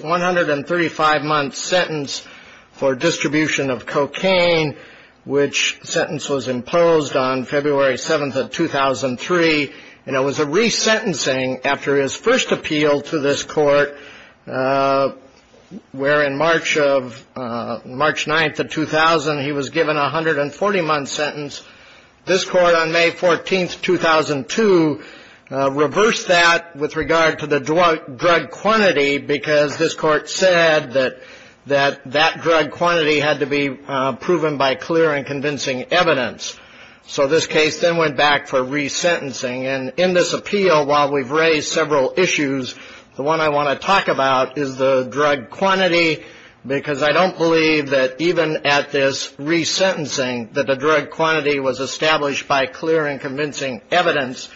135 months sentence for distribution of cocaine, which sentence was imposed on February 7th of 2003. And it was a resentencing after his first appeal to this court where in March 9th of 2000 he was given a 140-month sentence. This court on May 14th, 2002 reversed that with regard to the drug quantity because this court said that that drug quantity had to be proven by clear and convincing evidence. So this case then went back for resentencing. And in this appeal, while we've raised several issues, the one I want to talk about is the drug quantity because I don't believe that even at this resentencing that the drug quantity was established by clear and convincing evidence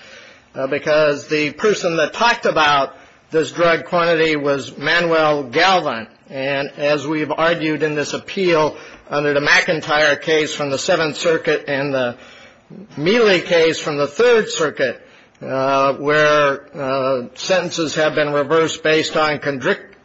because the person that talked about this drug quantity was Manuel Galvin. And as we've argued in this appeal under the McIntyre case from the Seventh Circuit and the Mealy case from the Third Circuit where sentences have been reversed based on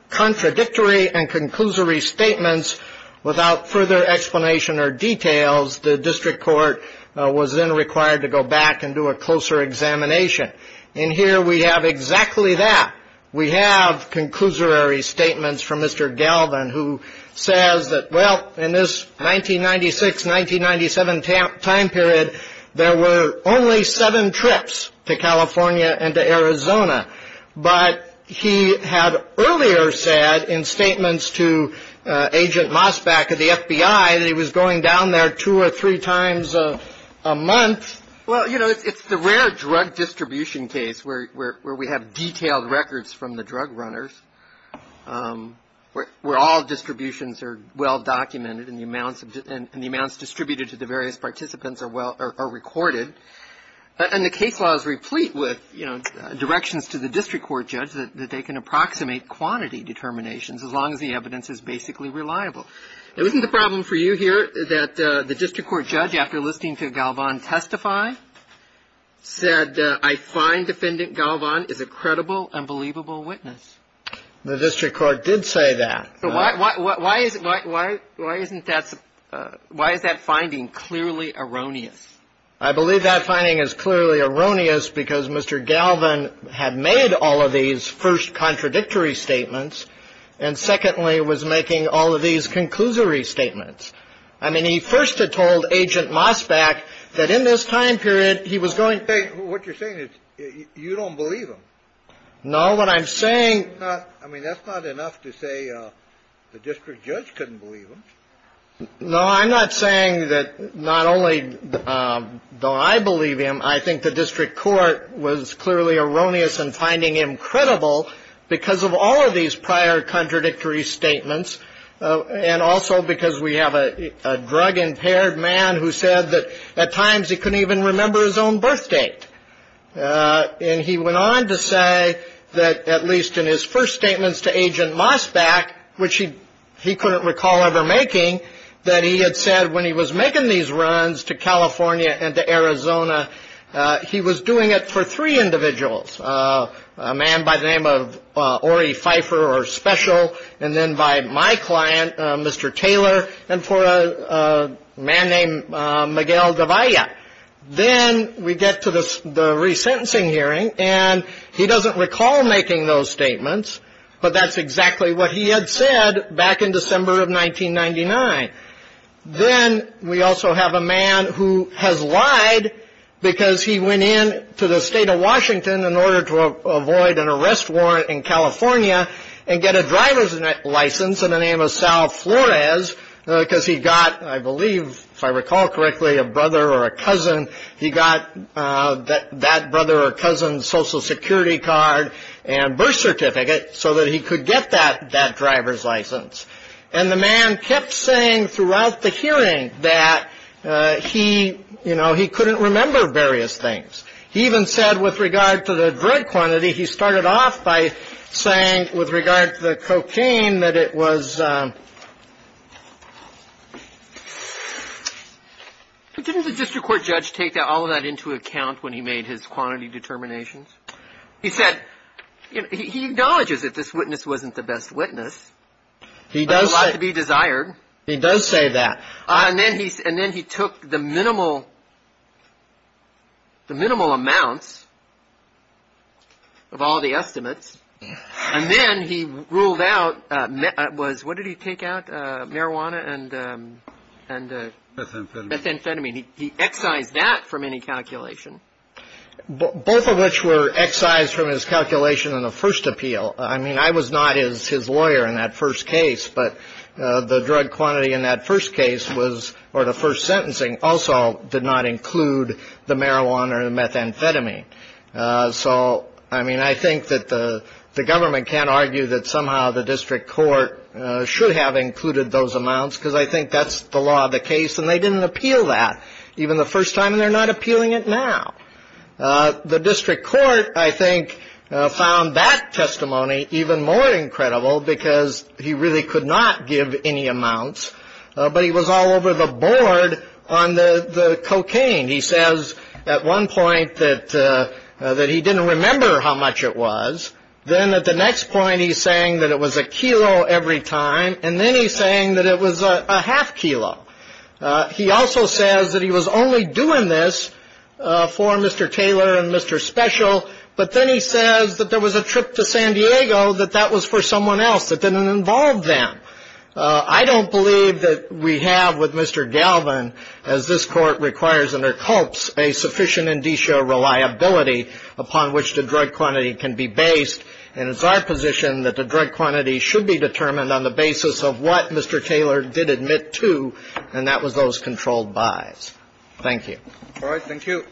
contradictory and conclusory statements without further explanation or details, the district court was then required to go back and do a closer examination. In here we have exactly that. We have conclusory statements from Mr. Galvin who says that, well, in this 1996, 1997 time period, there were only seven trips to California and to Arizona. But he had earlier said in statements to Agent Mosbach of the FBI that he was going down there two or three times a month. Well, you know, it's the rare drug distribution case where we have detailed records from the drug runners where all distributions are well documented and the amounts distributed to the various participants are recorded. And the case laws replete with, you know, directions to the district court judge that they can approximate quantity determinations as long as the evidence is basically reliable. Now, isn't the problem for you here that the district court judge, after listening to Galvin testify, said I find Defendant Galvin is a credible and believable witness? The district court did say that. So why is that finding clearly erroneous? I believe that finding is clearly erroneous because Mr. Galvin had made all of these first contradictory statements and, secondly, was making all of these conclusory statements. I mean, he first had told Agent Mosbach that in this time period, he was going to ---- Hey, what you're saying is you don't believe him. No. What I'm saying ---- I mean, that's not enough to say the district judge couldn't believe him. No. I'm not saying that not only do I believe him, I think the district court was clearly erroneous in finding him credible because of all of these prior contradictory statements and also because we have a drug-impaired man who said that at times he couldn't even remember his own birth date. And he went on to say that at least in his first statements to Agent Mosbach, which he couldn't recall ever making, that he had said when he was making these runs to California and to Arizona, he was doing it for three individuals, a man by the name of Ori Pfeiffer or Special, and then by my client, Mr. Taylor, and for a man named Miguel Davia. Then we get to the resentencing hearing and he doesn't recall making those statements, but that's exactly what he had said back in December of 1999. Then we also have a man who has lied because he went in to the state of Washington in order to avoid an arrest warrant in California and get a driver's license in the name of Sal Flores because he got, I believe, if I recall correctly, a brother or a cousin. He got that brother or cousin's Social Security card and birth certificate so that he could get that driver's license. And the man kept saying throughout the hearing that he, you know, he couldn't remember various things. He even said with regard to the drug quantity, he started off by saying with regard to the cocaine that it was ‑‑ Didn't the district court judge take all of that into account when he made his quantity determinations? He said, you know, he acknowledges that this witness wasn't the best witness. He does say that. And then he took the minimal amounts of all the estimates and then he ruled out, what did he take out, marijuana and methamphetamine. He excised that from any calculation. Both of which were excised from his calculation in the first appeal. I mean, I was not his lawyer in that first case, but the drug quantity in that first case was, or the first sentencing also did not include the marijuana or the methamphetamine. So, I mean, I think that the government can't argue that somehow the district court should have included those amounts. Because I think that's the law of the case. And they didn't appeal that, even the first time. And they're not appealing it now. The district court, I think, found that testimony even more incredible because he really could not give any amounts. But he was all over the board on the cocaine. He says at one point that he didn't remember how much it was. Then at the next point he's saying that it was a kilo every time. And then he's saying that it was a half kilo. He also says that he was only doing this for Mr. Taylor and Mr. Special. But then he says that there was a trip to San Diego that that was for someone else that didn't involve them. I don't believe that we have with Mr. Galvin, as this Court requires and it hopes, a sufficient indicio reliability upon which the drug quantity can be based. And it's our position that the drug quantity should be determined on the basis of what Mr. Taylor did admit to, and that was those controlled buys. Thank you. All right. Thank you.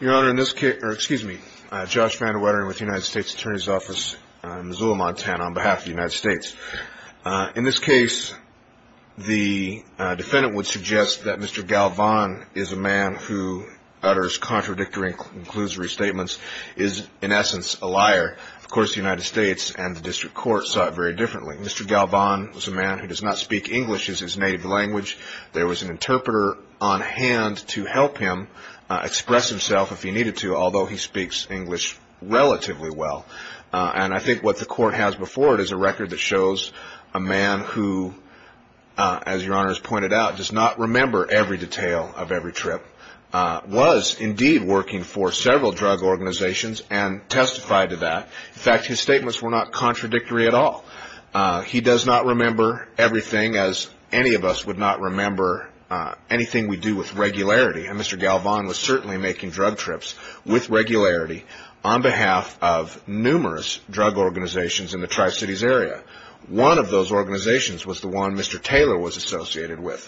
Your Honor, in this case, or excuse me, Josh Vandewetter with the United States Attorney's Office in Missoula, Montana, on behalf of the United States. In this case, the defendant would suggest that Mr. Galvin is a man who utters contradictory, inclusory statements, is in essence a liar. Of course, the United States and the district court saw it very differently. Mr. Galvin was a man who does not speak English as his native language. There was an interpreter on hand to help him express himself if he needed to, although he speaks English relatively well. And I think what the court has before it is a record that shows a man who, as Your Honor has pointed out, does not remember every detail of every trip, was indeed working for several drug organizations and testified to that. In fact, his statements were not contradictory at all. He does not remember everything, as any of us would not remember anything we do with regularity, and Mr. Galvin was certainly making drug trips with regularity on behalf of numerous drug organizations in the Tri-Cities area. One of those organizations was the one Mr. Taylor was associated with.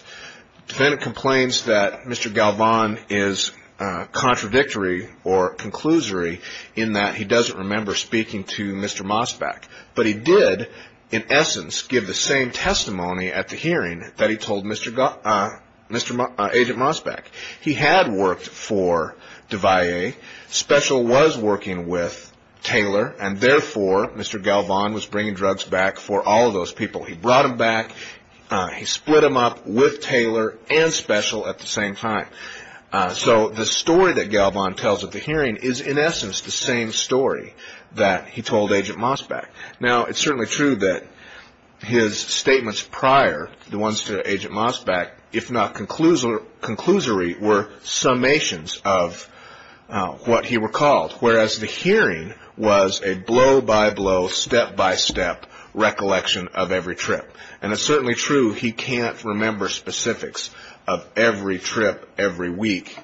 The defendant complains that Mr. Galvin is contradictory or conclusory in that he doesn't remember speaking to Mr. Mosbach. But he did, in essence, give the same testimony at the hearing that he told Agent Mosbach. He had worked for Devoyer. Special was working with Taylor, and therefore Mr. Galvin was bringing drugs back for all of those people. He brought them back. He split them up with Taylor and Special at the same time. So the story that Galvin tells at the hearing is, in essence, the same story that he told Agent Mosbach. Now, it's certainly true that his statements prior, the ones to Agent Mosbach, if not conclusory, were summations of what he recalled, whereas the hearing was a blow-by-blow, step-by-step recollection of every trip. And it's certainly true he can't remember specifics of every trip, every week,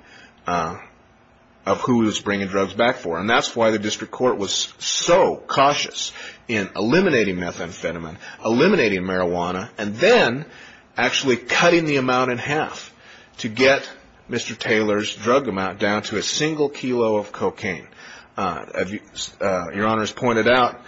of who he was bringing drugs back for. And that's why the district court was so cautious in eliminating methamphetamine, eliminating marijuana, and then actually cutting the amount in half to get Mr. Taylor's drug amount down to a single kilo of cocaine. As Your Honor has pointed out,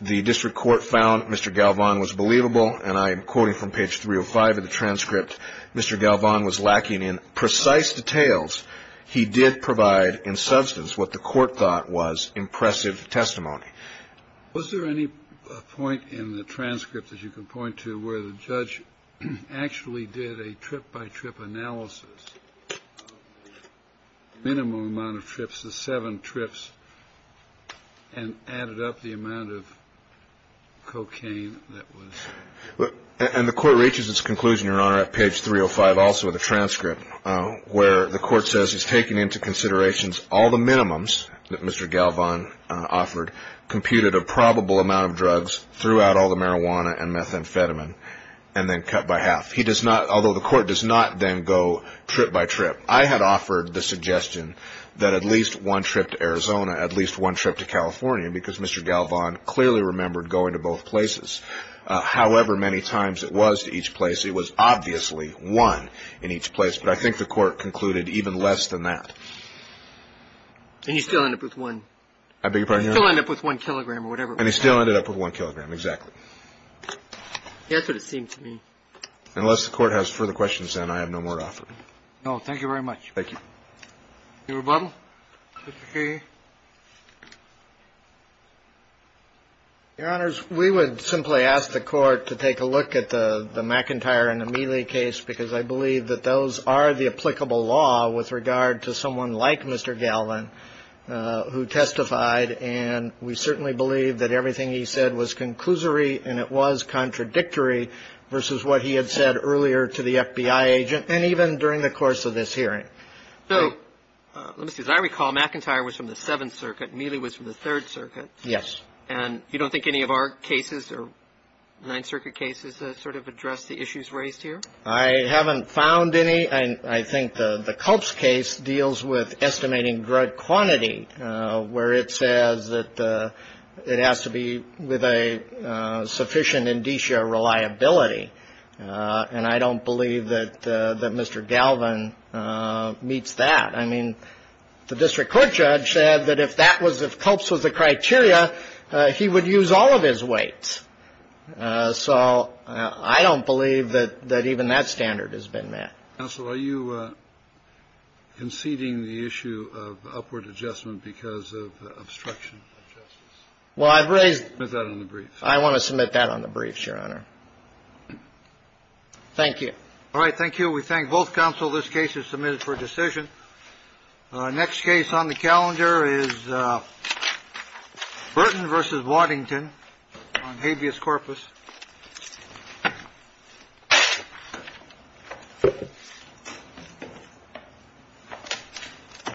the district court found Mr. Galvin was believable, and I am quoting from page 305 of the transcript, Mr. Galvin was lacking in precise details. He did provide in substance what the court thought was impressive testimony. Was there any point in the transcript that you can point to where the judge actually did a trip-by-trip analysis, minimum amount of trips, the seven trips, and added up the amount of cocaine that was? And the Court reaches its conclusion, Your Honor, at page 305 also of the transcript, where the Court says it's taken into consideration all the minimums that Mr. Galvin offered, computed a probable amount of drugs throughout all the marijuana and methamphetamine, and then cut by half. He does not, although the Court does not then go trip-by-trip. I had offered the suggestion that at least one trip to Arizona, at least one trip to California, because Mr. Galvin clearly remembered going to both places. However many times it was to each place, it was obviously one in each place. But I think the Court concluded even less than that. And you still end up with one. I beg your pardon, Your Honor? You still end up with one kilogram or whatever it was. And he still ended up with one kilogram, exactly. That's what it seemed to me. Unless the Court has further questions, then, I have no more to offer. No. Thank you very much. Thank you. Your rebuttal, Mr. Kagan. Your Honors, we would simply ask the Court to take a look at the McIntyre and Amelie case, because I believe that those are the applicable law with regard to someone like Mr. Galvin who testified. And we certainly believe that everything he said was conclusory and it was contradictory versus what he had said earlier to the FBI agent and even during the course of this hearing. So, let me see. As I recall, McIntyre was from the Seventh Circuit. Amelie was from the Third Circuit. Yes. And you don't think any of our cases or Ninth Circuit cases sort of address the issues raised here? I haven't found any. I think the Culp's case deals with estimating drug quantity, where it says that it has to be with a sufficient indicia reliability. And I don't believe that Mr. Galvin meets that. I mean, the district court judge said that if that was, if Culp's was the criteria, he would use all of his weights. So I don't believe that even that standard has been met. Counsel, are you conceding the issue of upward adjustment because of obstruction of justice? Well, I've raised it. Submit that on the brief. I want to submit that on the briefs, Your Honor. Thank you. All right. Thank you. We thank both counsel. This case is submitted for decision. Next case on the calendar is Burton versus Waddington on habeas corpus.